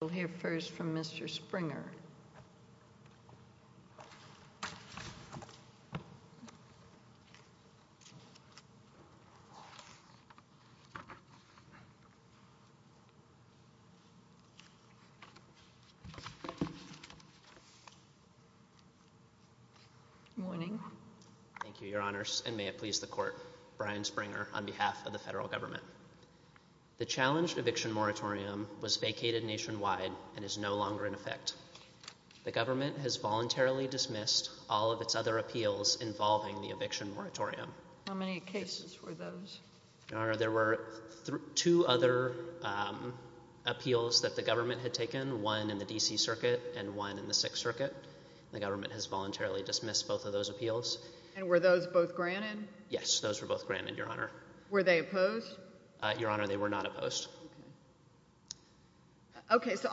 We'll hear first from Mr. Springer. Good morning. Thank you, Your Honors, and may it please the Court, Brian Springer, on behalf of the federal government. The challenged eviction moratorium was vacated nationwide and is no longer in effect. The government has voluntarily dismissed all of its other appeals involving the eviction moratorium. How many cases were those? Your Honor, there were two other appeals that the government had taken, one in the D.C. Circuit and one in the Sixth Circuit. The government has voluntarily dismissed both of those appeals. And were those both granted? Yes, those were both granted, Your Honor. Were they opposed? Your Honor, they were not opposed. Okay. Okay, so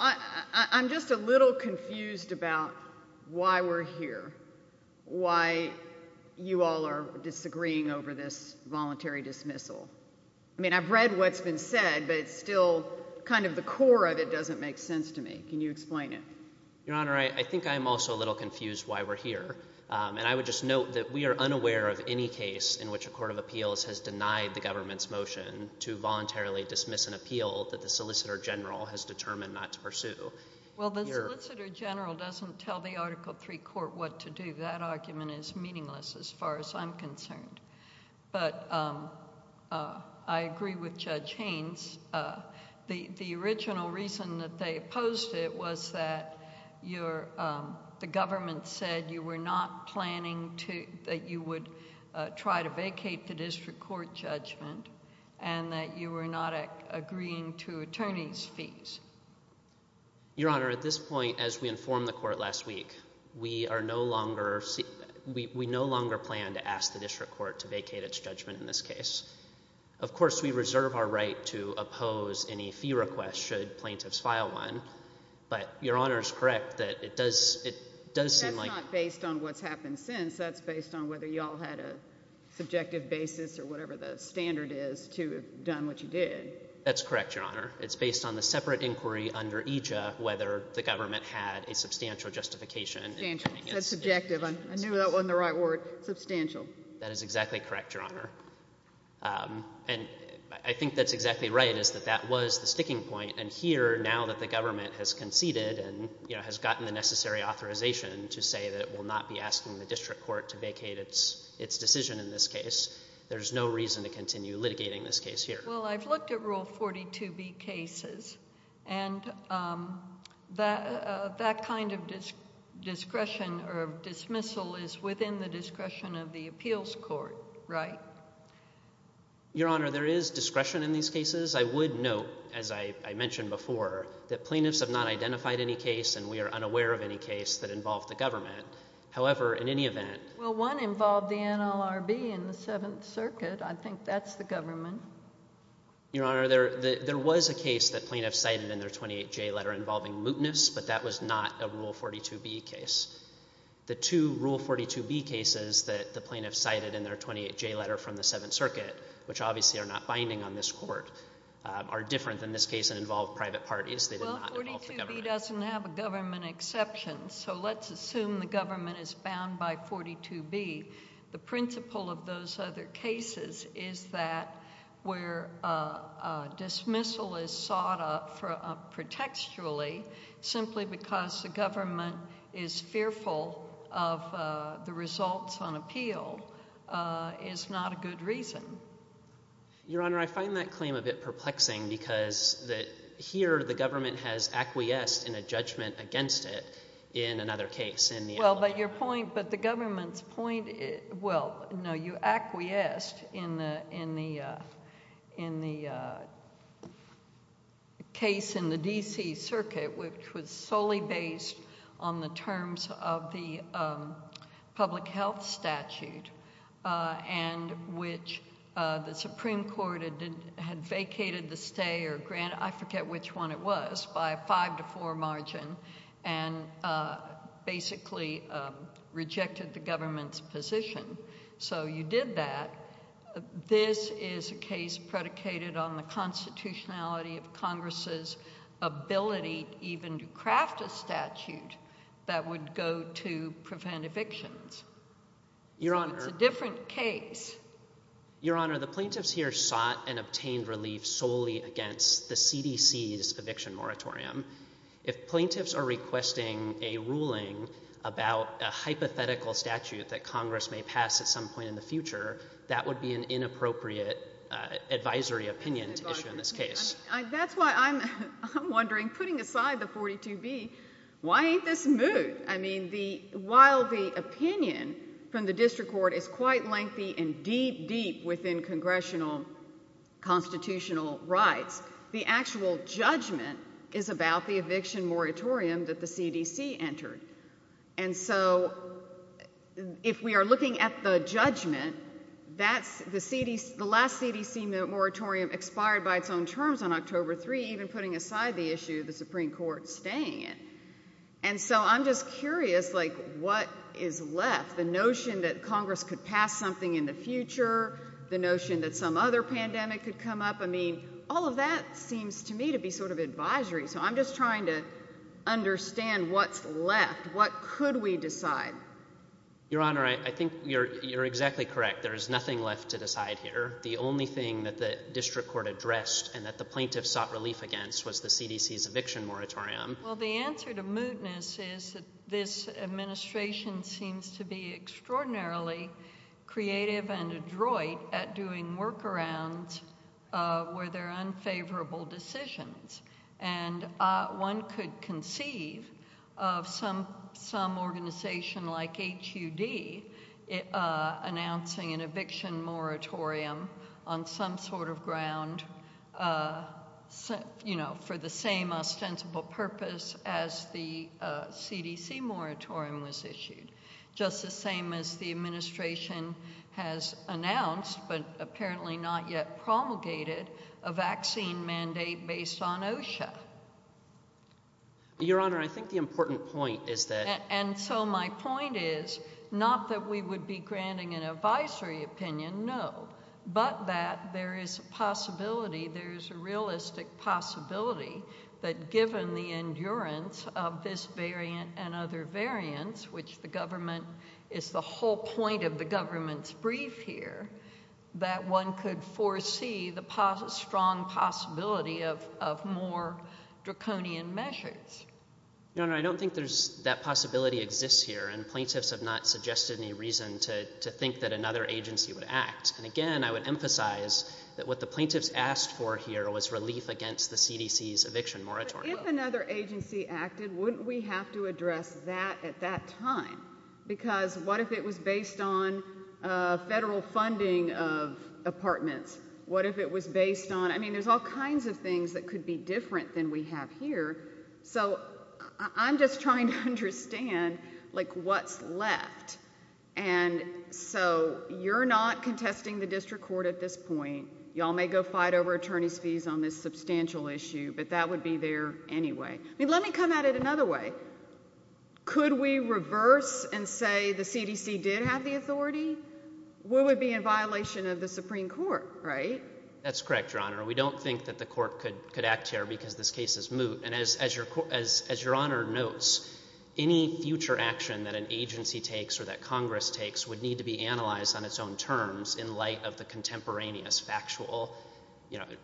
I'm just a little confused about why we're here, why you all are disagreeing over this voluntary dismissal. I mean, I've read what's been said, but it's still kind of the core of it doesn't make sense to me. Can you explain it? Your Honor, I think I'm also a little confused why we're here. And I would just note that we are unaware of any case in which a court of appeals has denied the government's motion to voluntarily dismiss an appeal that the Solicitor General has determined not to pursue. Well, the Solicitor General doesn't tell the Article III court what to do. That argument is meaningless as far as I'm concerned. But I agree with Judge Haynes. The original reason that they opposed it was that the government said you were not planning that you would try to vacate the district court judgment and that you were not agreeing to attorneys' fees. Your Honor, at this point, as we informed the court last week, we no longer plan to ask the district court to vacate its judgment in this case. Of course, we reserve our right to oppose any fee request should plaintiffs file one, but Your Honor is correct that it does seem like... Well, based on what's happened since, that's based on whether you all had a subjective basis or whatever the standard is to have done what you did. That's correct, Your Honor. It's based on the separate inquiry under EJA whether the government had a substantial justification... Substantial. That's subjective. I knew that wasn't the right word. Substantial. That is exactly correct, Your Honor. And I think that's exactly right, is that that was the sticking point. And here, now that the government has conceded and has gotten the necessary authorization to say that it will not be asking the district court to vacate its decision in this case, there's no reason to continue litigating this case here. Well, I've looked at Rule 42B cases, and that kind of discretion or dismissal is within the discretion of the appeals court, right? Your Honor, there is discretion in these cases. I would note, as I mentioned before, that plaintiffs have not identified any case, and we are unaware of any case that involved the government. However, in any event... Well, one involved the NLRB in the Seventh Circuit. I think that's the government. Your Honor, there was a case that plaintiffs cited in their 28J letter involving mootness, but that was not a Rule 42B case. The two Rule 42B cases that the plaintiffs cited in their 28J letter from the Seventh Circuit, which obviously are not binding on this Court, are different in this case and involve private parties. They did not involve the government. Well, 42B doesn't have a government exception, so let's assume the government is bound by 42B. The principle of those other cases is that where dismissal is sought up protecturally simply because the government is fearful of the results on appeal is not a good reason. Your Honor, I find that claim a bit perplexing because here the government has acquiesced in a judgment against it in another case in the NLRB. Well, but your point... But the government's point... Well, no, you acquiesced in the case in the D.C. Circuit, which was solely based on the terms of the public health statute and which the Supreme Court had vacated the stay or granted... I forget which one it was, by a 5-4 margin, and basically rejected the government's position. So you did that. This is a case predicated on the constitutionality of Congress's ability even to craft a statute that would go to prevent evictions. So it's a different case. Your Honor, the plaintiffs here sought and obtained relief solely against the CDC's eviction moratorium. If plaintiffs are requesting a ruling about a hypothetical statute that Congress may pass at some point in the future, that would be an inappropriate advisory opinion to issue in this case. That's why I'm wondering, putting aside the 42B, why ain't this moved? I mean, while the opinion from the district court is quite lengthy and deep, deep within congressional constitutional rights, the actual judgment is about the eviction moratorium that the CDC entered. And so if we are looking at the judgment, that's the last CDC moratorium expired by its own terms on October 3, even putting aside the issue the Supreme Court's staying in. And so I'm just curious, like, what is left? The notion that Congress could pass something in the future, the notion that some other pandemic could come up, I mean, all of that seems to me to be sort of advisory. So I'm just trying to understand what's left. What could we decide? Your Honor, I think you're exactly correct. There is nothing left to decide here. The only thing that the district court addressed and that the plaintiffs sought relief against was the CDC's eviction moratorium. Well, the answer to mootness is that this administration seems to be extraordinarily creative and adroit at doing workarounds where there are unfavorable decisions. And one could conceive of some organization like HUD announcing an eviction moratorium on some sort of ground, you know, for the same ostensible purpose as the CDC moratorium was issued, just the same as the administration has announced but apparently not yet promulgated a vaccine mandate based on OSHA. Your Honor, I think the important point is that... And so my point is not that we would be granting an advisory opinion, no, but that there is a possibility, there is a realistic possibility that given the endurance of this variant and other variants, which the government... It's the whole point of the government's brief here, that one could foresee the strong possibility of more draconian measures. Your Honor, I don't think that possibility exists here, to think that another agency would act. And again, I would emphasize that what the plaintiffs asked for here was relief against the CDC's eviction moratorium. But if another agency acted, wouldn't we have to address that at that time? Because what if it was based on federal funding of apartments? What if it was based on... I mean, there's all kinds of things that could be different than we have here. So I'm just trying to understand, like, what's left. And so you're not contesting the district court at this point. Y'all may go fight over attorneys' fees on this substantial issue, but that would be there anyway. I mean, let me come at it another way. Could we reverse and say the CDC did have the authority? We would be in violation of the Supreme Court, right? That's correct, Your Honor. We don't think that the court could act here because this case is moot. And as Your Honor notes, any future action that an agency takes or that Congress takes would need to be analyzed on its own terms in light of the contemporaneous factual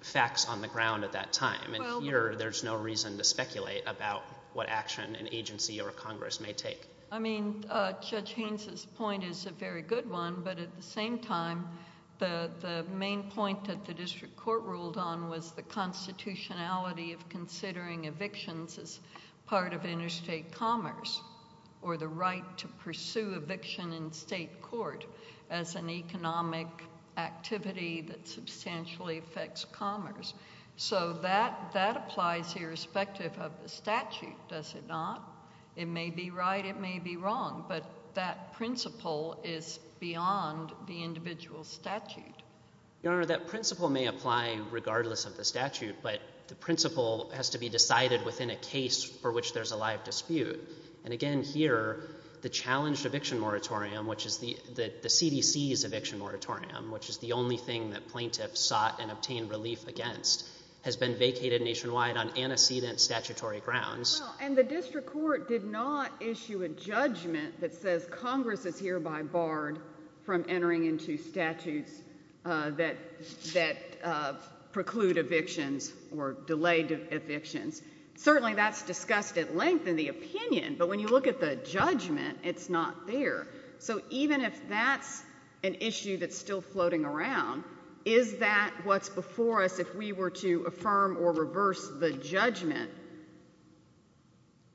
facts on the ground at that time. And here there's no reason to speculate about what action an agency or a Congress may take. I mean, Judge Haines's point is a very good one, but at the same time the main point that the district court ruled on was the constitutionality of considering evictions as part of interstate commerce or the right to pursue eviction in state court as an economic activity that substantially affects commerce. So that applies irrespective of the statute, does it not? It may be right, it may be wrong, but that principle is beyond the individual statute. Your Honor, that principle may apply regardless of the statute, but the principle has to be decided within a case for which there's a live dispute. And again here, the challenged eviction moratorium, which is the CDC's eviction moratorium, which is the only thing that plaintiffs sought and obtained relief against, has been vacated nationwide on antecedent statutory grounds. And the district court did not issue a judgment that says Congress is hereby barred from entering into statutes that preclude evictions or delay evictions. Certainly that's discussed at length in the opinion, but when you look at the judgment, it's not there. So even if that's an issue that's still floating around, is that what's before us if we were to affirm or reverse the judgment?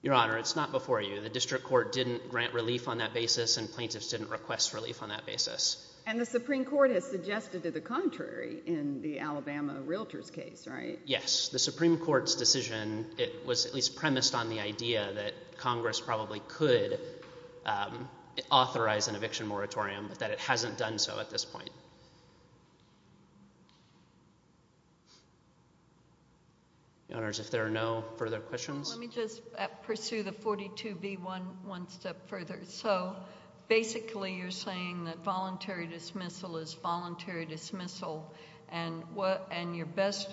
Your Honor, it's not before you. The district court didn't grant relief on that basis and plaintiffs didn't request relief on that basis. And the Supreme Court has suggested to the contrary in the Alabama Realtors case, right? Yes. The Supreme Court's decision was at least premised on the idea that Congress probably could authorize an eviction moratorium, but that it hasn't done so at this point. Your Honors, if there are no further questions. Let me just pursue the 42B one step further. So basically you're saying that voluntary dismissal is voluntary dismissal and what's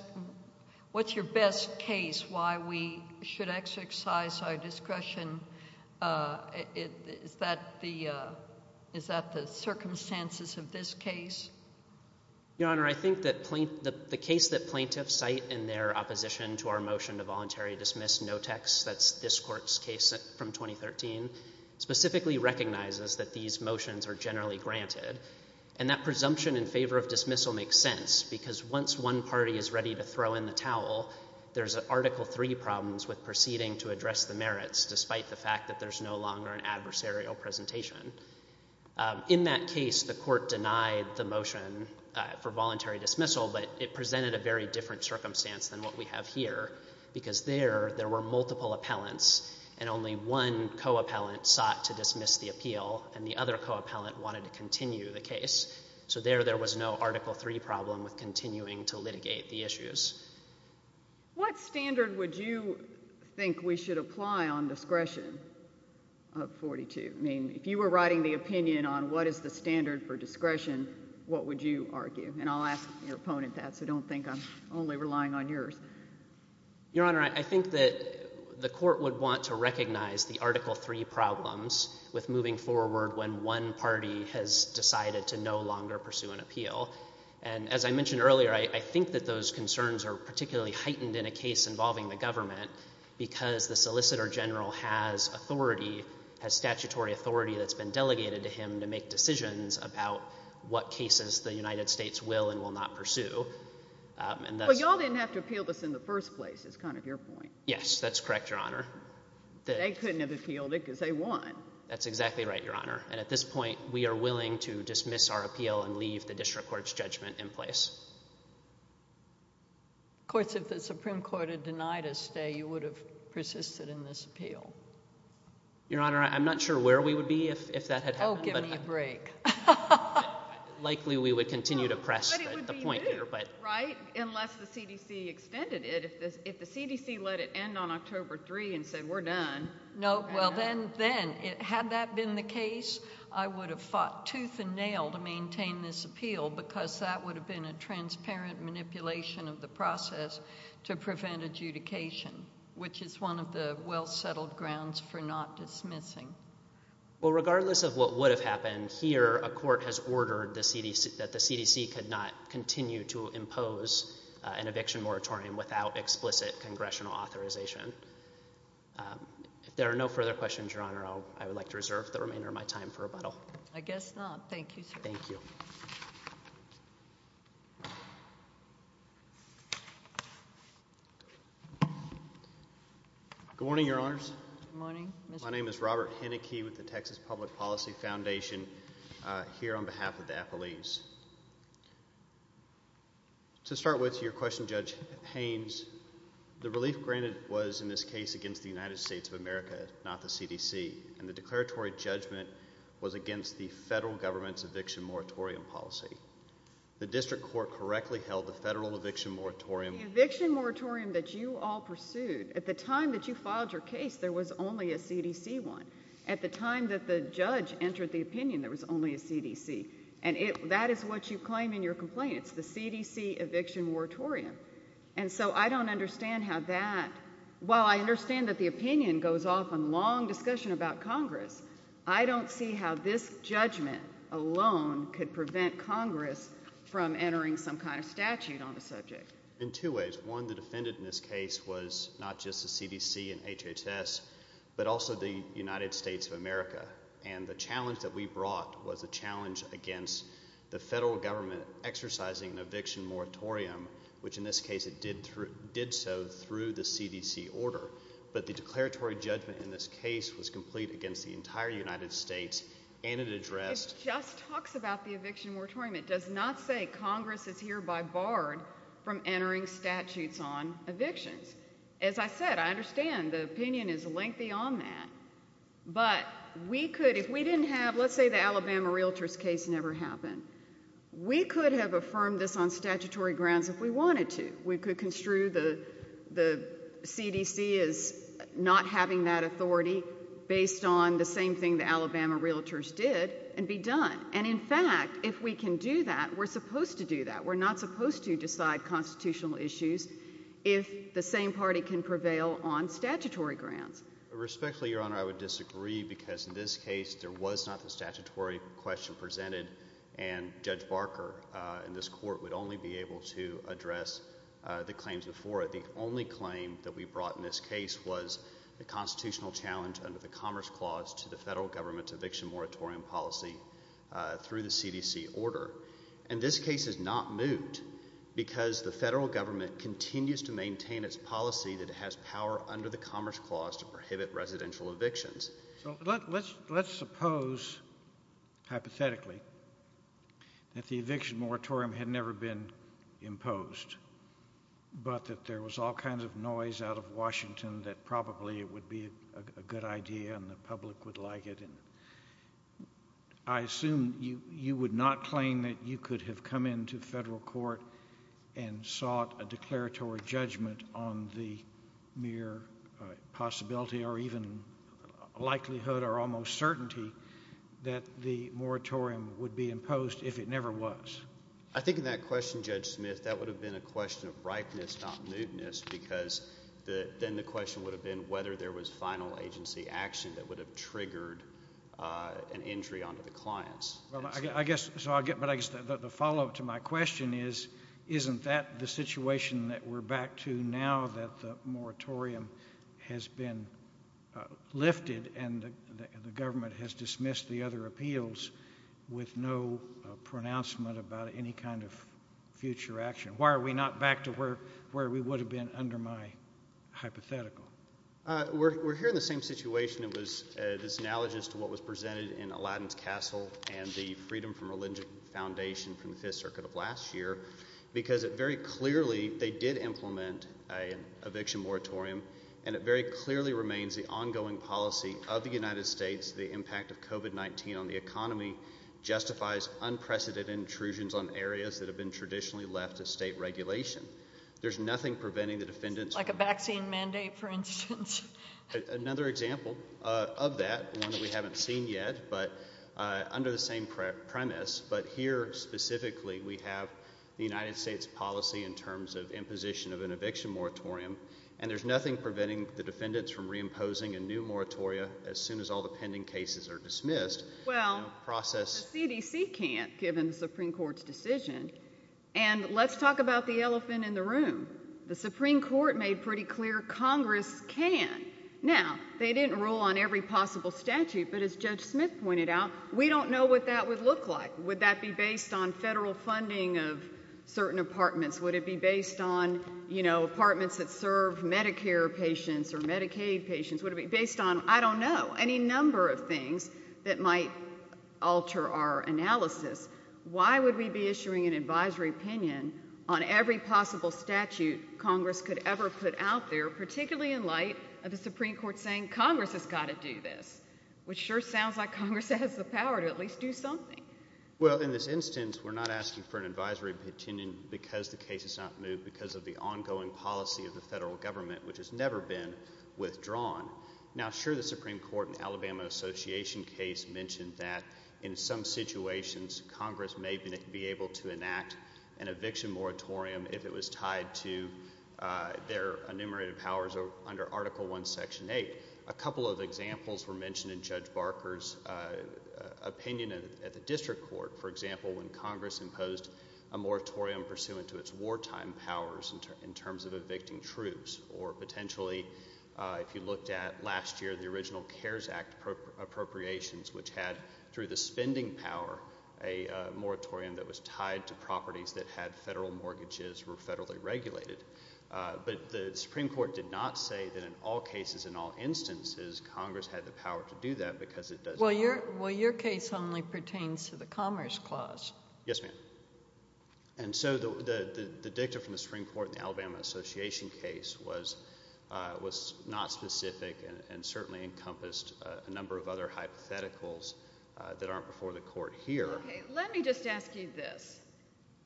your best case why we should exercise our discretion? Is that the circumstances of this case? Your Honor, I think that the case that plaintiffs cite in their opposition to our motion to voluntary dismiss, that's this Court's case from 2013, specifically recognizes that these motions are generally granted. And that presumption in favor of dismissal makes sense because once one party is ready to throw in the towel, there's an Article III problem with proceeding to address the merits, despite the fact that there's no longer an adversarial presentation. In that case, the Court denied the motion for voluntary dismissal, but it presented a very different circumstance than what we have here because there there were multiple appellants and only one co-appellant sought to dismiss the appeal and the other co-appellant wanted to continue the case. So there there was no Article III problem with continuing to litigate the issues. What standard would you think we should apply on discretion of 42? I mean, if you were writing the opinion on what is the standard for discretion, what would you argue? And I'll ask your opponent that, so don't think I'm only relying on yours. Your Honor, I think that the Court would want to recognize the Article III problems with moving forward when one party has decided to no longer pursue an appeal. And as I mentioned earlier, I think that those concerns are particularly heightened in a case involving the government because the Solicitor General has authority, has statutory authority that's been delegated to him to make decisions about what cases the United States will and will not pursue. Well, you all didn't have to appeal this in the first place is kind of your point. Yes, that's correct, Your Honor. They couldn't have appealed it because they won. That's exactly right, Your Honor. And at this point, we are willing to dismiss our appeal and leave the district court's judgment in place. Of course, if the Supreme Court had denied a stay, you would have persisted in this appeal. Your Honor, I'm not sure where we would be if that had happened. Oh, give me a break. Likely we would continue to press the point here. But it would be new, right, unless the CDC extended it. If the CDC let it end on October 3 and said we're done. No, well, then had that been the case, I would have fought tooth and nail to maintain this appeal because that would have been a transparent manipulation of the process to prevent adjudication, which is one of the well-settled grounds for not dismissing. Well, regardless of what would have happened, here a court has ordered that the CDC could not continue to impose an eviction moratorium without explicit congressional authorization. If there are no further questions, Your Honor, I would like to reserve the remainder of my time for rebuttal. I guess not. Thank you, sir. Thank you. Good morning, Your Honors. Good morning. My name is Robert Henneke with the Texas Public Policy Foundation here on behalf of the affilees. To start with, to your question, Judge Haynes, the relief granted was in this case against the United States of America, not the CDC, and the declaratory judgment was against the federal government's eviction moratorium policy. The district court correctly held the federal eviction moratorium. The eviction moratorium that you all pursued, at the time that you filed your case, there was only a CDC one. At the time that the judge entered the opinion, there was only a CDC. And that is what you claim in your complaint. It's the CDC eviction moratorium. And so I don't understand how that, while I understand that the opinion goes off on long discussion about Congress, I don't see how this judgment alone could prevent Congress from entering some kind of statute on the subject. In two ways. One, the defendant in this case was not just the CDC and HHS, but also the United States of America. And the challenge that we brought was a challenge against the federal government exercising an eviction moratorium, which in this case it did so through the CDC order. But the declaratory judgment in this case was complete against the entire United States, and it addressed – It just talks about the eviction moratorium. It does not say Congress is hereby barred from entering statutes on evictions. As I said, I understand the opinion is lengthy on that. But we could, if we didn't have – Let's say the Alabama Realtors case never happened. We could have affirmed this on statutory grounds if we wanted to. We could construe the CDC as not having that authority based on the same thing the Alabama Realtors did and be done. And, in fact, if we can do that, we're supposed to do that. We're not supposed to decide constitutional issues if the same party can prevail on statutory grounds. Respectfully, Your Honor, I would disagree because in this case there was not the statutory question presented, and Judge Barker in this court would only be able to address the claims before it. The only claim that we brought in this case was the constitutional challenge under the Commerce Clause to the federal government's eviction moratorium policy through the CDC order. And this case is not moved because the federal government continues to maintain its policy that it has power under the Commerce Clause to prohibit residential evictions. So let's suppose, hypothetically, that the eviction moratorium had never been imposed but that there was all kinds of noise out of Washington that probably it would be a good idea and the public would like it. I assume you would not claim that you could have come into federal court and sought a declaratory judgment on the mere possibility or even likelihood or almost certainty that the moratorium would be imposed if it never was. I think in that question, Judge Smith, that would have been a question of ripeness, not mootness, because then the question would have been whether there was final agency action that would have triggered an injury onto the clients. But I guess the follow-up to my question is, isn't that the situation that we're back to now that the moratorium has been lifted and the government has dismissed the other appeals with no pronouncement about any kind of future action? Why are we not back to where we would have been under my hypothetical? We're here in the same situation. It's analogous to what was presented in Aladdin's Castle and the Freedom from Religion Foundation from the Fifth Circuit of last year because very clearly they did implement an eviction moratorium and it very clearly remains the ongoing policy of the United States that the impact of COVID-19 on the economy justifies unprecedented intrusions on areas that have been traditionally left to state regulation. There's nothing preventing the defendants... Like a vaccine mandate, for instance. Another example of that, one that we haven't seen yet, but under the same premise, but here specifically we have the United States policy in terms of imposition of an eviction moratorium, and there's nothing preventing the defendants from reimposing a new moratoria as soon as all the pending cases are dismissed. Well, the CDC can't, given the Supreme Court's decision. And let's talk about the elephant in the room. The Supreme Court made pretty clear Congress can. Now, they didn't rule on every possible statute, but as Judge Smith pointed out, we don't know what that would look like. Would that be based on federal funding of certain apartments? Would it be based on apartments that serve Medicare patients or Medicaid patients? Would it be based on, I don't know, any number of things that might alter our analysis? Why would we be issuing an advisory opinion on every possible statute Congress could ever put out there, particularly in light of the Supreme Court saying, Congress has got to do this, which sure sounds like Congress has the power to at least do something. Well, in this instance, we're not asking for an advisory opinion because the case is not moved because of the ongoing policy of the federal government, which has never been withdrawn. Now, sure, the Supreme Court in the Alabama Association case mentioned that in some situations, Congress may be able to enact an eviction moratorium if it was tied to their enumerated powers under Article I, Section 8. A couple of examples were mentioned in Judge Barker's opinion at the district court. For example, when Congress imposed a moratorium pursuant to its wartime powers in terms of evicting troops or potentially, if you looked at last year, the original CARES Act appropriations, which had, through the spending power, a moratorium that was tied to properties that had federal mortgages were federally regulated. But the Supreme Court did not say that in all cases, in all instances, Congress had the power to do that because it does not. Well, your case only pertains to the Commerce Clause. Yes, ma'am. And so the dicta from the Supreme Court in the Alabama Association case was not specific and certainly encompassed a number of other hypotheticals that aren't before the court here. Let me just ask you this.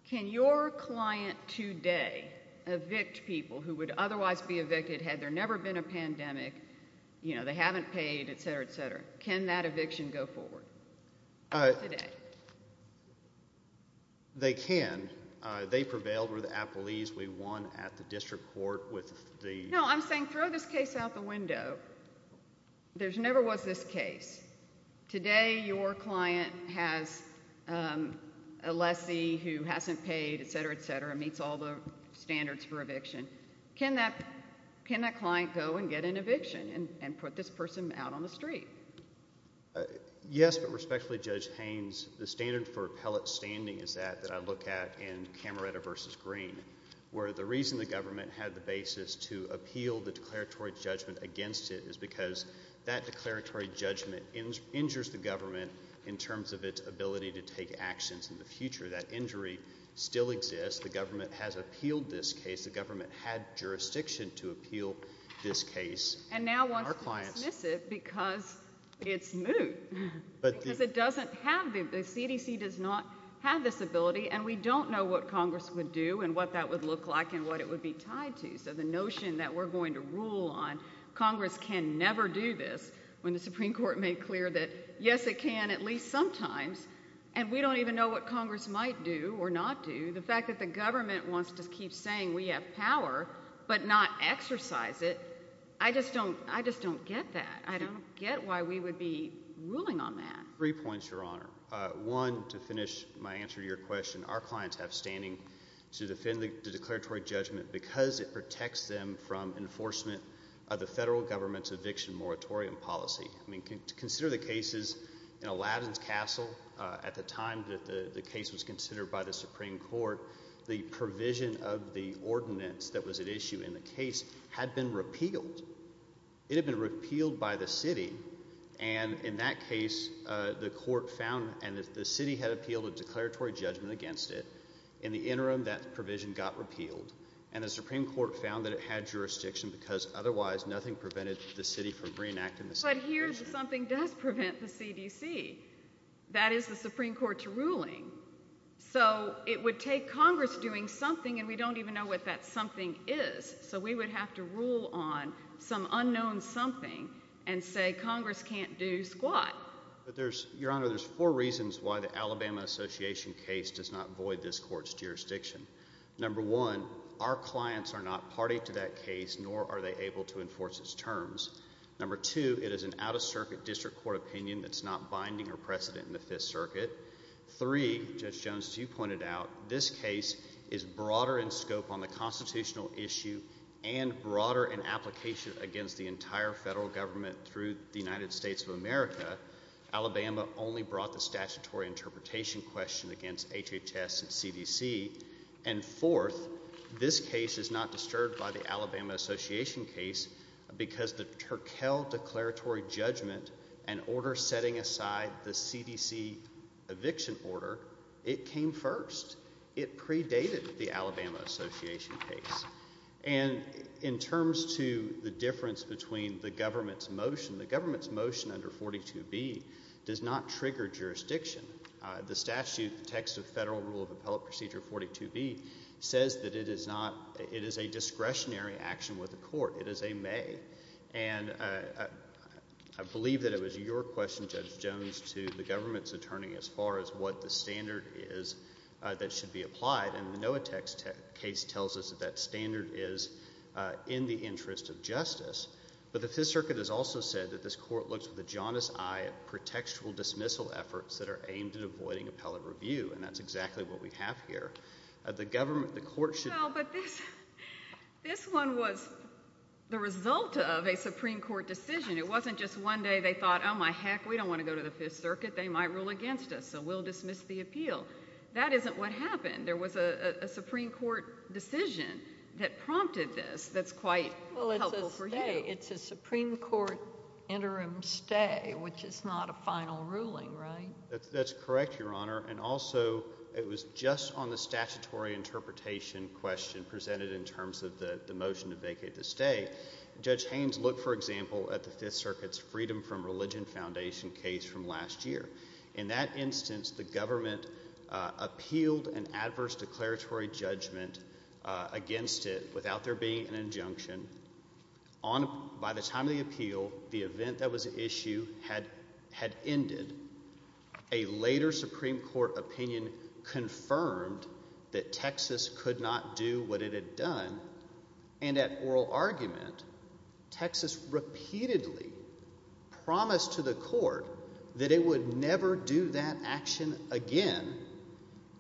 Can your client today evict people who would otherwise be evicted had there never been a pandemic? You know, they haven't paid, et cetera, et cetera. Can that eviction go forward today? They can. They prevailed. We're the appellees. We won at the district court with the... No, I'm saying throw this case out the window. There never was this case. Today, your client has a lessee who hasn't paid, et cetera, et cetera, meets all the standards for eviction. Can that client go and get an eviction and put this person out on the street? Yes, but respectfully, Judge Haynes, the standard for appellate standing is that that I look at in Camerota v. Green, where the reason the government had the basis to appeal the declaratory judgment against it is because that declaratory judgment injures the government in terms of its ability to take actions in the future. That injury still exists. The government has appealed this case. The government had jurisdiction to appeal this case. And now wants to dismiss it because it's moot. Because it doesn't have... The CDC does not have this ability, and we don't know what Congress would do and what that would look like and what it would be tied to. So the notion that we're going to rule on Congress can never do this when the Supreme Court made clear that, yes, it can at least sometimes, and we don't even know what Congress might do or not do. The fact that the government wants to keep saying we have power but not exercise it, I just don't get that. I don't get why we would be ruling on that. Three points, Your Honor. One, to finish my answer to your question, our clients have standing to defend the declaratory judgment because it protects them from enforcement of the federal government's eviction moratorium policy. Consider the cases in Aladdin's Castle. At the time that the case was considered by the Supreme Court, the provision of the ordinance that was at issue in the case had been repealed. It had been repealed by the city, and in that case the court found and the city had appealed a declaratory judgment against it. In the interim, that provision got repealed, and the Supreme Court found that it had jurisdiction because otherwise nothing prevented the city from reenacting the same provision. But here's something that does prevent the CDC. That is the Supreme Court's ruling. So it would take Congress doing something, and we don't even know what that something is, so we would have to rule on some unknown something and say Congress can't do squat. Your Honor, there's four reasons why the Alabama Association case does not void this court's jurisdiction. Number one, our clients are not party to that case, nor are they able to enforce its terms. Number two, it is an out-of-circuit district court opinion that's not binding or precedent in the Fifth Circuit. Three, Judge Jones, as you pointed out, this case is broader in scope on the constitutional issue and broader in application against the entire federal government through the United States of America. Alabama only brought the statutory interpretation question against HHS and CDC. And fourth, this case is not disturbed by the Alabama Association case because the Terkel declaratory judgment and order setting aside the CDC eviction order, it came first. It predated the Alabama Association case. And in terms to the difference between the government's motion, the government's motion under 42B does not trigger jurisdiction. The statute, the text of Federal Rule of Appellate Procedure 42B, says that it is a discretionary action with the court. It is a may. And I believe that it was your question, Judge Jones, to the government's attorney as far as what the standard is that should be applied. And the NOAA text case tells us that that standard is in the interest of justice. But the Fifth Circuit has also said that this court looks with a jaundiced eye at pretextual dismissal efforts that are aimed at avoiding appellate review, and that's exactly what we have here. The government, the court should... But this one was the result of a Supreme Court decision. It wasn't just one day they thought, oh, my heck, we don't want to go to the Fifth Circuit, they might rule against us, so we'll dismiss the appeal. That isn't what happened. There was a Supreme Court decision that prompted this that's quite helpful for you. Well, it's a stay. It's a Supreme Court interim stay, which is not a final ruling, right? That's correct, Your Honor. And also it was just on the statutory interpretation question presented in terms of the motion to vacate the stay. Judge Haynes looked, for example, at the Fifth Circuit's Freedom from Religion Foundation case from last year. In that instance, the government appealed an adverse declaratory judgment against it without there being an injunction. By the time of the appeal, the event that was at issue had ended. A later Supreme Court opinion confirmed that Texas could not do what it had done, and at oral argument, Texas repeatedly promised to the court that it would never do that action again.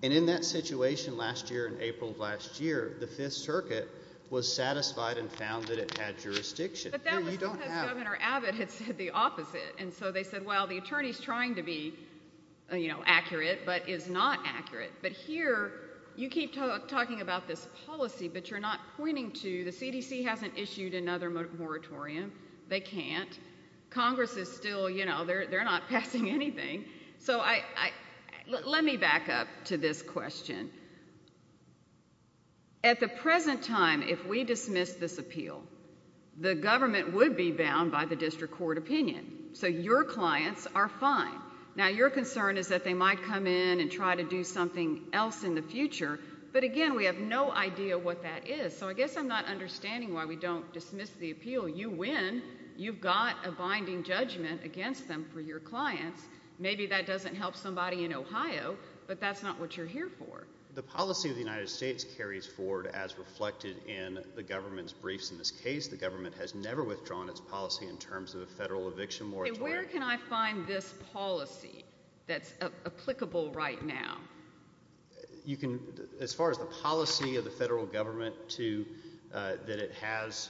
And in that situation last year, in April of last year, the Fifth Circuit was satisfied and found that it had jurisdiction. But that was because Governor Abbott had said the opposite. And so they said, well, the attorney's trying to be accurate but is not accurate. But here you keep talking about this policy, but you're not pointing to the CDC hasn't issued another moratorium. They can't. Congress is still, you know, they're not passing anything. So let me back up to this question. At the present time, if we dismiss this appeal, the government would be bound by the district court opinion. So your clients are fine. Now, your concern is that they might come in and try to do something else in the future. But, again, we have no idea what that is. So I guess I'm not understanding why we don't dismiss the appeal. You win. You've got a binding judgment against them for your clients. Maybe that doesn't help somebody in Ohio, but that's not what you're here for. The policy of the United States carries forward as reflected in the government's briefs in this case. The government has never withdrawn its policy in terms of a federal eviction moratorium. Where can I find this policy that's applicable right now? As far as the policy of the federal government that it has...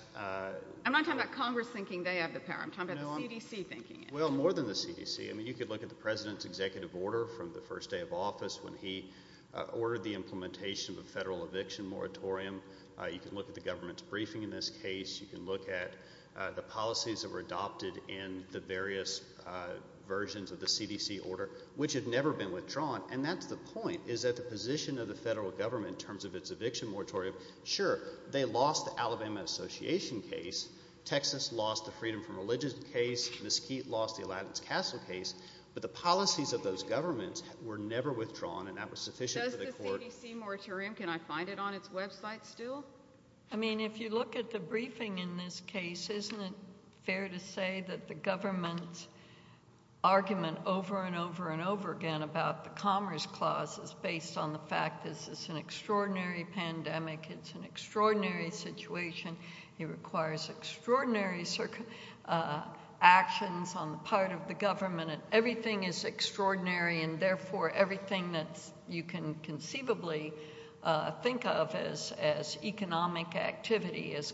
I'm not talking about Congress thinking they have the power. I'm talking about the CDC thinking it. Well, more than the CDC. I mean, you could look at the president's executive order from the first day of office when he ordered the implementation of a federal eviction moratorium. You can look at the government's briefing in this case. You can look at the policies that were adopted in the various versions of the CDC order, which had never been withdrawn. And that's the point, is that the position of the federal government in terms of its eviction moratorium... Sure, they lost the Alabama Association case. Texas lost the Freedom from Religion case. Mesquite lost the Aladdin's Castle case. But the policies of those governments were never withdrawn, and that was sufficient for the court... Does the CDC moratorium... Can I find it on its website still? I mean, if you look at the briefing in this case, isn't it fair to say that the government's argument over and over and over again about the Commerce Clause is based on the fact that this is an extraordinary pandemic, it's an extraordinary situation, it requires extraordinary actions on the part of the government, and everything is extraordinary, and therefore everything that you can conceivably think of has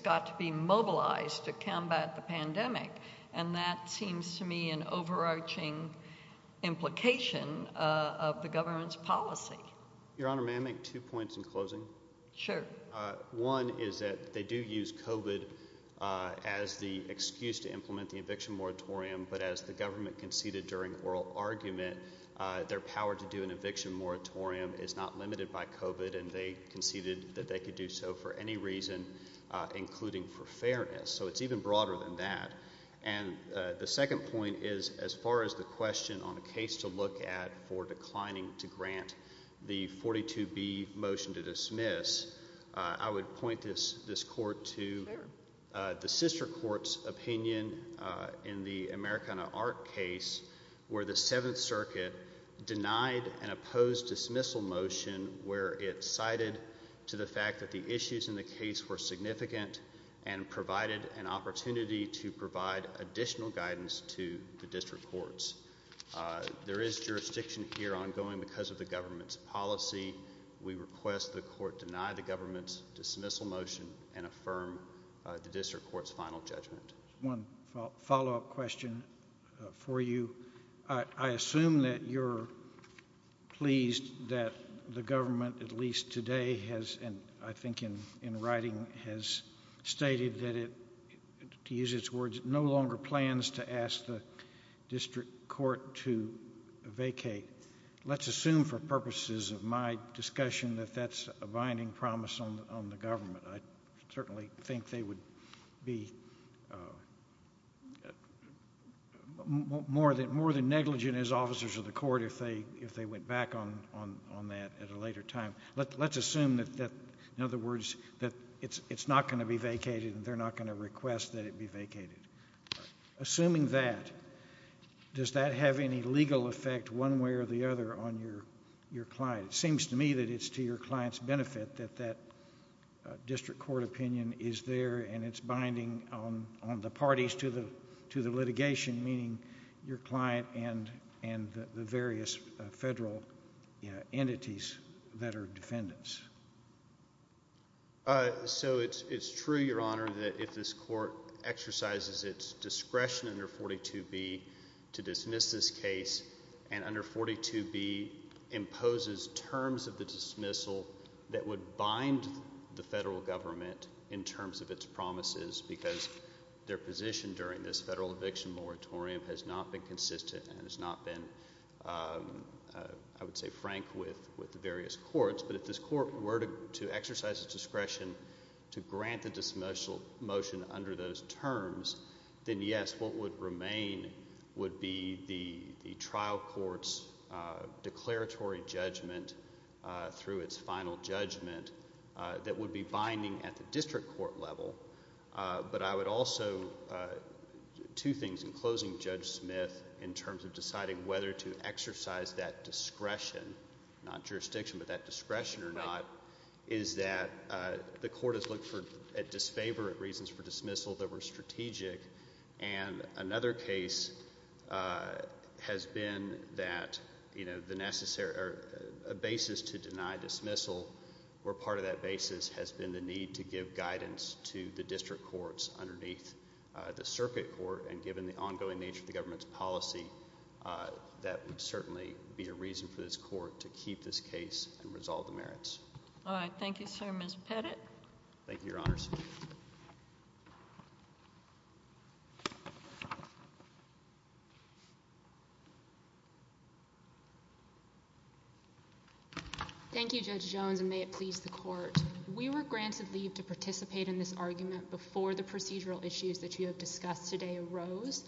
got to be mobilized to combat the pandemic. And that seems to me an overarching implication of the government's policy. Your Honor, may I make two points in closing? Sure. One is that they do use COVID as the excuse to implement the eviction moratorium, but as the government conceded during oral argument, their power to do an eviction moratorium is not limited by COVID, and they conceded that they could do so for any reason, including for fairness. So it's even broader than that. And the second point is, as far as the question on a case to look at for declining to grant the 42B motion to dismiss, I would point this court to the sister court's opinion in the Americana Art case, where the Seventh Circuit denied an opposed dismissal motion where it cited to the fact that the issues in the case were significant and provided an opportunity to provide additional guidance to the district courts. There is jurisdiction here ongoing because of the government's policy. We request the court deny the government's dismissal motion and affirm the district court's final judgment. One follow-up question for you. I assume that you're pleased that the government, at least today, has, I think in writing, has stated that it, to use its words, no longer plans to ask the district court to vacate. Let's assume for purposes of my discussion that that's a binding promise on the government. I certainly think they would be more than negligent as officers of the court if they went back on that at a later time. Let's assume, in other words, that it's not going to be vacated and they're not going to request that it be vacated. Assuming that, does that have any legal effect one way or the other on your client? It seems to me that it's to your client's benefit that that district court opinion is there and it's binding on the parties to the litigation, meaning your client and the various federal entities that are defendants. So it's true, Your Honor, that if this court exercises its discretion under 42B to dismiss this case and under 42B imposes terms of the dismissal that would bind the federal government in terms of its promises because their position during this federal eviction moratorium has not been consistent and has not been, I would say, frank with the various courts. But if this court were to exercise its discretion to grant the dismissal motion under those terms, then yes, what would remain would be the trial court's declaratory judgment through its final judgment that would be binding at the district court level. But I would also, two things, in closing Judge Smith in terms of deciding whether to exercise that discretion, not jurisdiction, but that discretion or not, is that the court has looked at disfavor reasons for dismissal that were strategic, and another case has been that a basis to deny dismissal or part of that basis has been the need to give guidance to the district courts underneath the circuit court and given the ongoing nature of the government's policy that would certainly be a reason for this court to keep this case and resolve the merits. All right. Thank you, sir. Ms. Pettit. Thank you, Your Honors. Thank you, Judge Jones, and may it please the Court. We were granted leave to participate in this argument before the procedural issues that you have discussed today arose,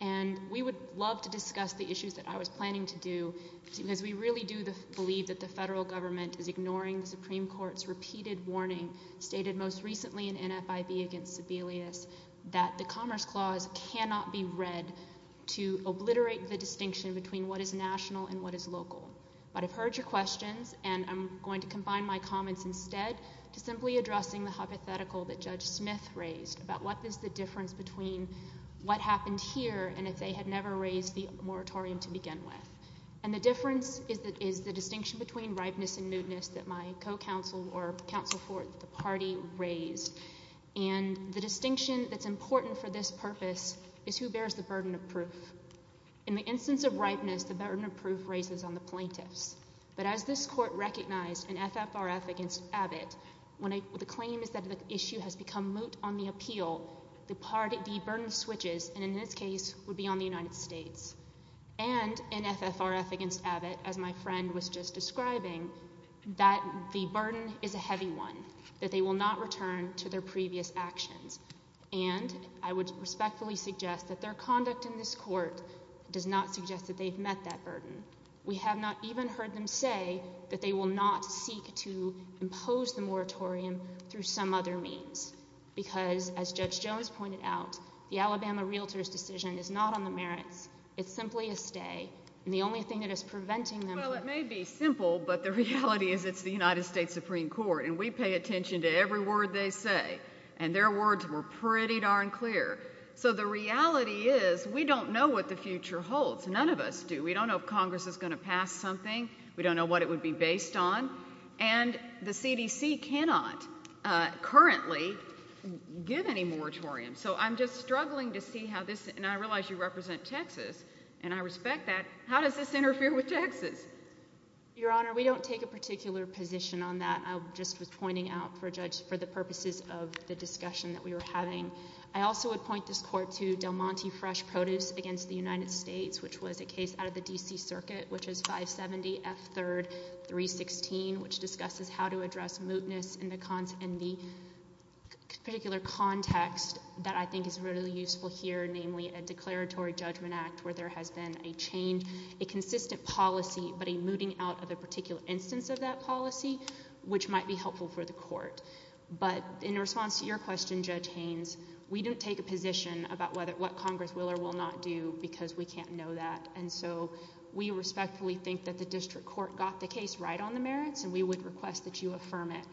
and we would love to discuss the issues that I was planning to do because we really do believe that the federal government is ignoring the Supreme Court's repeated warning stated most recently in NFIB against Sebelius that the Commerce Clause cannot be read to obliterate the distinction between what is national and what is local. But I've heard your questions, and I'm going to combine my comments instead to simply addressing the hypothetical that Judge Smith raised about what is the difference between what happened here and if they had never raised the moratorium to begin with. And the difference is the distinction between ripeness and moodness that my co-counsel or counsel for the party raised. And the distinction that's important for this purpose is who bears the burden of proof. In the instance of ripeness, the burden of proof raises on the plaintiffs. But as this Court recognized in FFRF against Abbott, when the claim is that the issue has become moot on the appeal, the burden switches, and in this case would be on the United States. And in FFRF against Abbott, as my friend was just describing, that the burden is a heavy one, that they will not return to their previous actions. And I would respectfully suggest that their conduct in this Court does not suggest that they've met that burden. We have not even heard them say that they will not seek to impose the moratorium through some other means because, as Judge Jones pointed out, the Alabama realtors' decision is not on the merits. It's simply a stay, and the only thing that is preventing them from... Well, it may be simple, but the reality is it's the United States Supreme Court, and we pay attention to every word they say, and their words were pretty darn clear. So the reality is we don't know what the future holds. None of us do. We don't know if Congress is going to pass something. We don't know what it would be based on. And the CDC cannot currently give any moratorium. So I'm just struggling to see how this... And I realize you represent Texas, and I respect that. How does this interfere with Texas? Your Honor, we don't take a particular position on that. I just was pointing out for the purposes of the discussion that we were having. I also would point this Court to Del Monte Fresh Produce against the United States, which was a case out of the D.C. Circuit, which is 570 F. 3rd 316, which discusses how to address mootness in the particular context that I think is really useful here, namely a declaratory judgment act where there has been a change, a consistent policy, but a mooting out of a particular instance of that policy, which might be helpful for the Court. But in response to your question, Judge Haynes, we don't take a position about what Congress will or will not do because we can't know that. And so we respectfully think that the District Court got the case right on the merits, and we would request that you affirm it.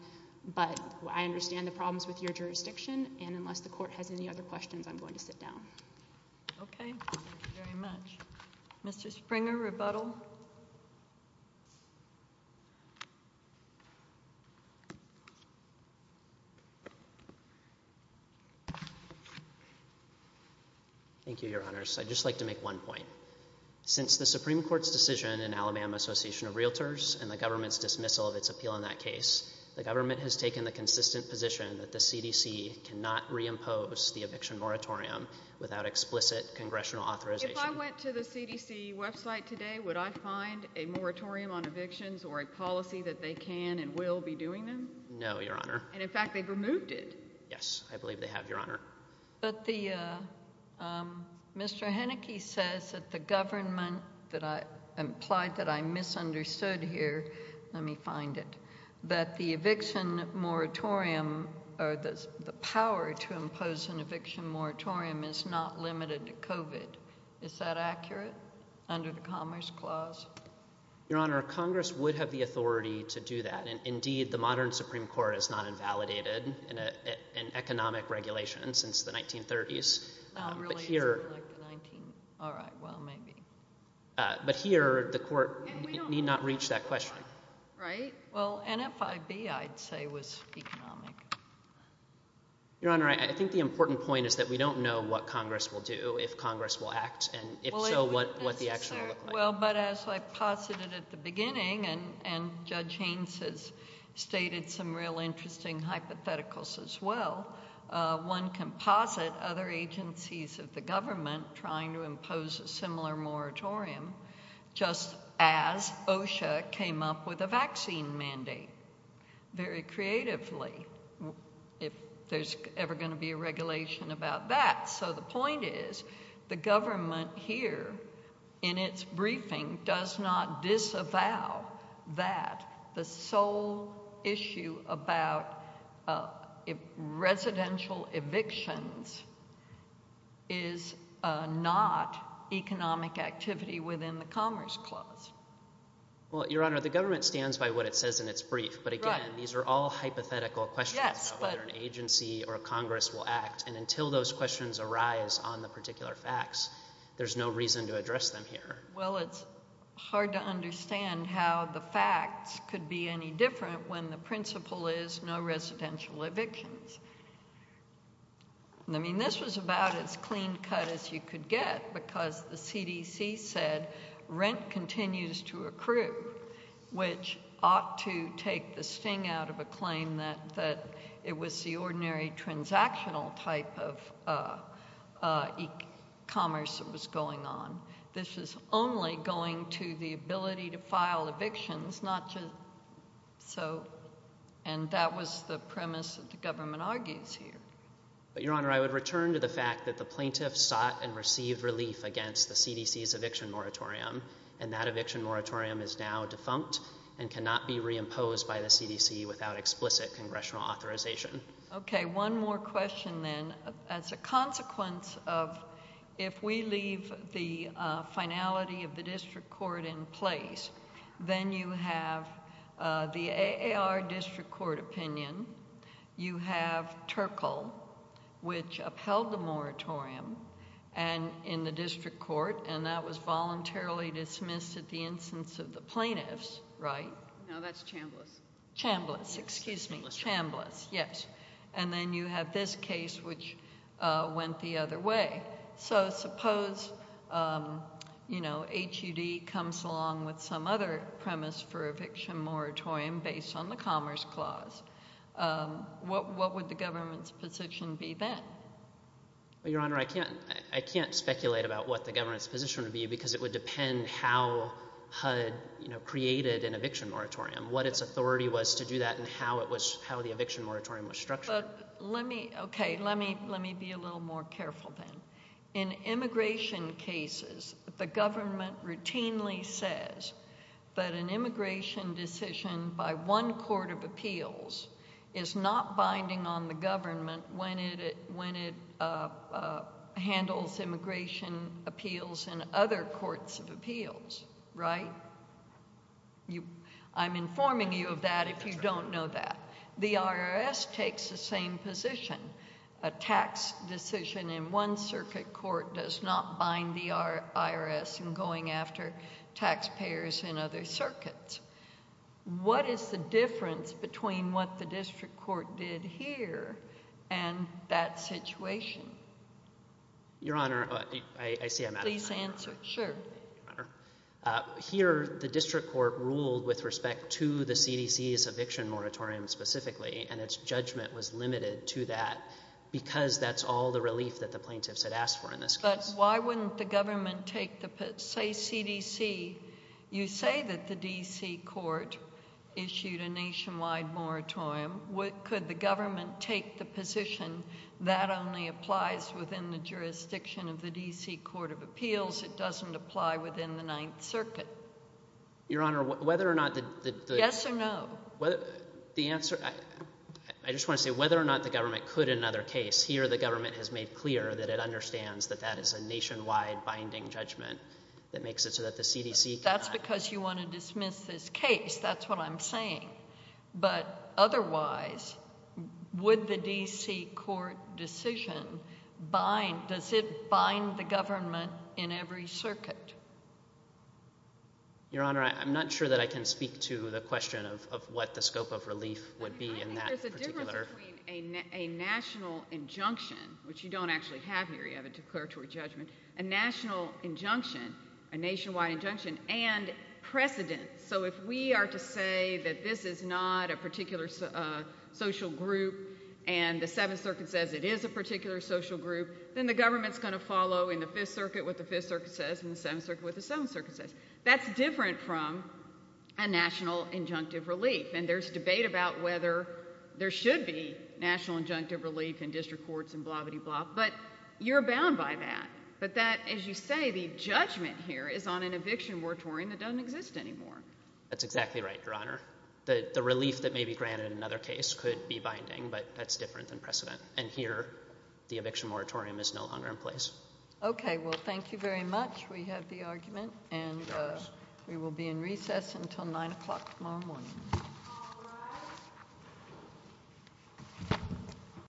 But I understand the problems with your jurisdiction, and unless the Court has any other questions, I'm going to sit down. Okay. Thank you very much. Mr. Springer, rebuttal. Thank you, Your Honors. I'd just like to make one point. Since the Supreme Court's decision in Alabama Association of Realtors and the government's dismissal of its appeal in that case, the government has taken the consistent position that the CDC cannot reimpose the eviction moratorium without explicit congressional authorization. If I went to the CDC website today, would I find a moratorium on evictions or a policy that they can and will be doing them? No, Your Honor. And, in fact, they've removed it. Yes, I believe they have, Your Honor. But Mr. Heneke says that the government implied that I misunderstood here. Let me find it. That the eviction moratorium or the power to impose an eviction moratorium is not limited to COVID. Is that accurate under the Commerce Clause? Your Honor, Congress would have the authority to do that, and, indeed, the modern Supreme Court has not invalidated an economic regulation since the 1930s. It really isn't like the 19... All right, well, maybe. But here, the Court need not reach that question. Right? Well, NFIB, I'd say, was economic. Your Honor, I think the important point is that we don't know what Congress will do, if Congress will act, and, if so, what the action will look like. Well, but as I posited at the beginning, and Judge Haynes has stated some real interesting hypotheticals as well, one can posit other agencies of the government trying to impose a similar moratorium just as OSHA came up with a vaccine mandate, very creatively, if there's ever going to be a regulation about that. So the point is, the government here, in its briefing, does not disavow that the sole issue about residential evictions is not economic activity within the Commerce Clause. Well, Your Honor, the government stands by what it says in its brief, but, again, these are all hypothetical questions about whether an agency or a Congress will act, and until those questions arise on the particular facts, there's no reason to address them here. Well, it's hard to understand how the facts could be any different when the principle is no residential evictions. I mean, this was about as clean cut as you could get, because the CDC said rent continues to accrue, which ought to take the sting out of a claim that it was the ordinary transactional type of e-commerce that was going on. This was only going to the ability to file evictions, and that was the premise that the government argues here. But, Your Honor, I would return to the fact that the plaintiffs sought and received relief against the CDC's eviction moratorium, and that eviction moratorium is now defunct and cannot be reimposed by the CDC without explicit congressional authorization. Okay, one more question, then. As a consequence of if we leave the finality of the district court in place, then you have the AAR district court opinion, you have Turkle, which upheld the moratorium in the district court, and that was voluntarily dismissed at the instance of the plaintiffs, right? No, that's Chambliss. Chambliss, excuse me, Chambliss, yes. And then you have this case, which went the other way. So suppose HUD comes along with some other premise for eviction moratorium based on the Commerce Clause. What would the government's position be then? Your Honor, I can't speculate about what the government's position would be because it would depend how HUD created an eviction moratorium, what its authority was to do that, and how the eviction moratorium was structured. Okay, let me be a little more careful then. In immigration cases, the government routinely says that an immigration decision by one court of appeals is not binding on the government when it handles immigration appeals in other courts of appeals, right? I'm informing you of that if you don't know that. The IRS takes the same position. A tax decision in one circuit court does not bind the IRS in going after taxpayers in other circuits. What is the difference between what the district court did here and that situation? Your Honor, I see I'm out of time. Please answer, sure. Here, the district court ruled with respect to the CDC's eviction moratorium specifically, and its judgment was limited to that because that's all the relief that the plaintiffs had asked for in this case. But why wouldn't the government take the position? Say CDC, you say that the D.C. court issued a nationwide moratorium. Could the government take the position as long as it doesn't apply within the Ninth Circuit? Your Honor, whether or not the... Yes or no? The answer, I just want to say whether or not the government could in another case. Here, the government has made clear that it understands that that is a nationwide binding judgment that makes it so that the CDC cannot. That's because you want to dismiss this case. That's what I'm saying. But otherwise, would the D.C. court decision bind, does it bind the government in every circuit? Your Honor, I'm not sure that I can speak to the question of what the scope of relief would be in that particular... I think there's a difference between a national injunction, which you don't actually have here, you have a declaratory judgment, a national injunction, a nationwide injunction, and precedent. So if we are to say that this is not a particular social group and the Seventh Circuit says it is a particular social group, then the government's going to follow in the Fifth Circuit what the Fifth Circuit says and the Seventh Circuit what the Seventh Circuit says. That's different from a national injunctive relief. And there's debate about whether there should be national injunctive relief in district courts and blah-biddy-blah, but you're bound by that. But that, as you say, the judgment here is on an eviction moratorium that doesn't exist anymore. That's exactly right, Your Honor. The relief that may be granted in another case could be binding, but that's different than precedent. And here the eviction moratorium is no longer in place. Okay. Well, thank you very much. We have the argument, and we will be in recess until 9 o'clock tomorrow morning.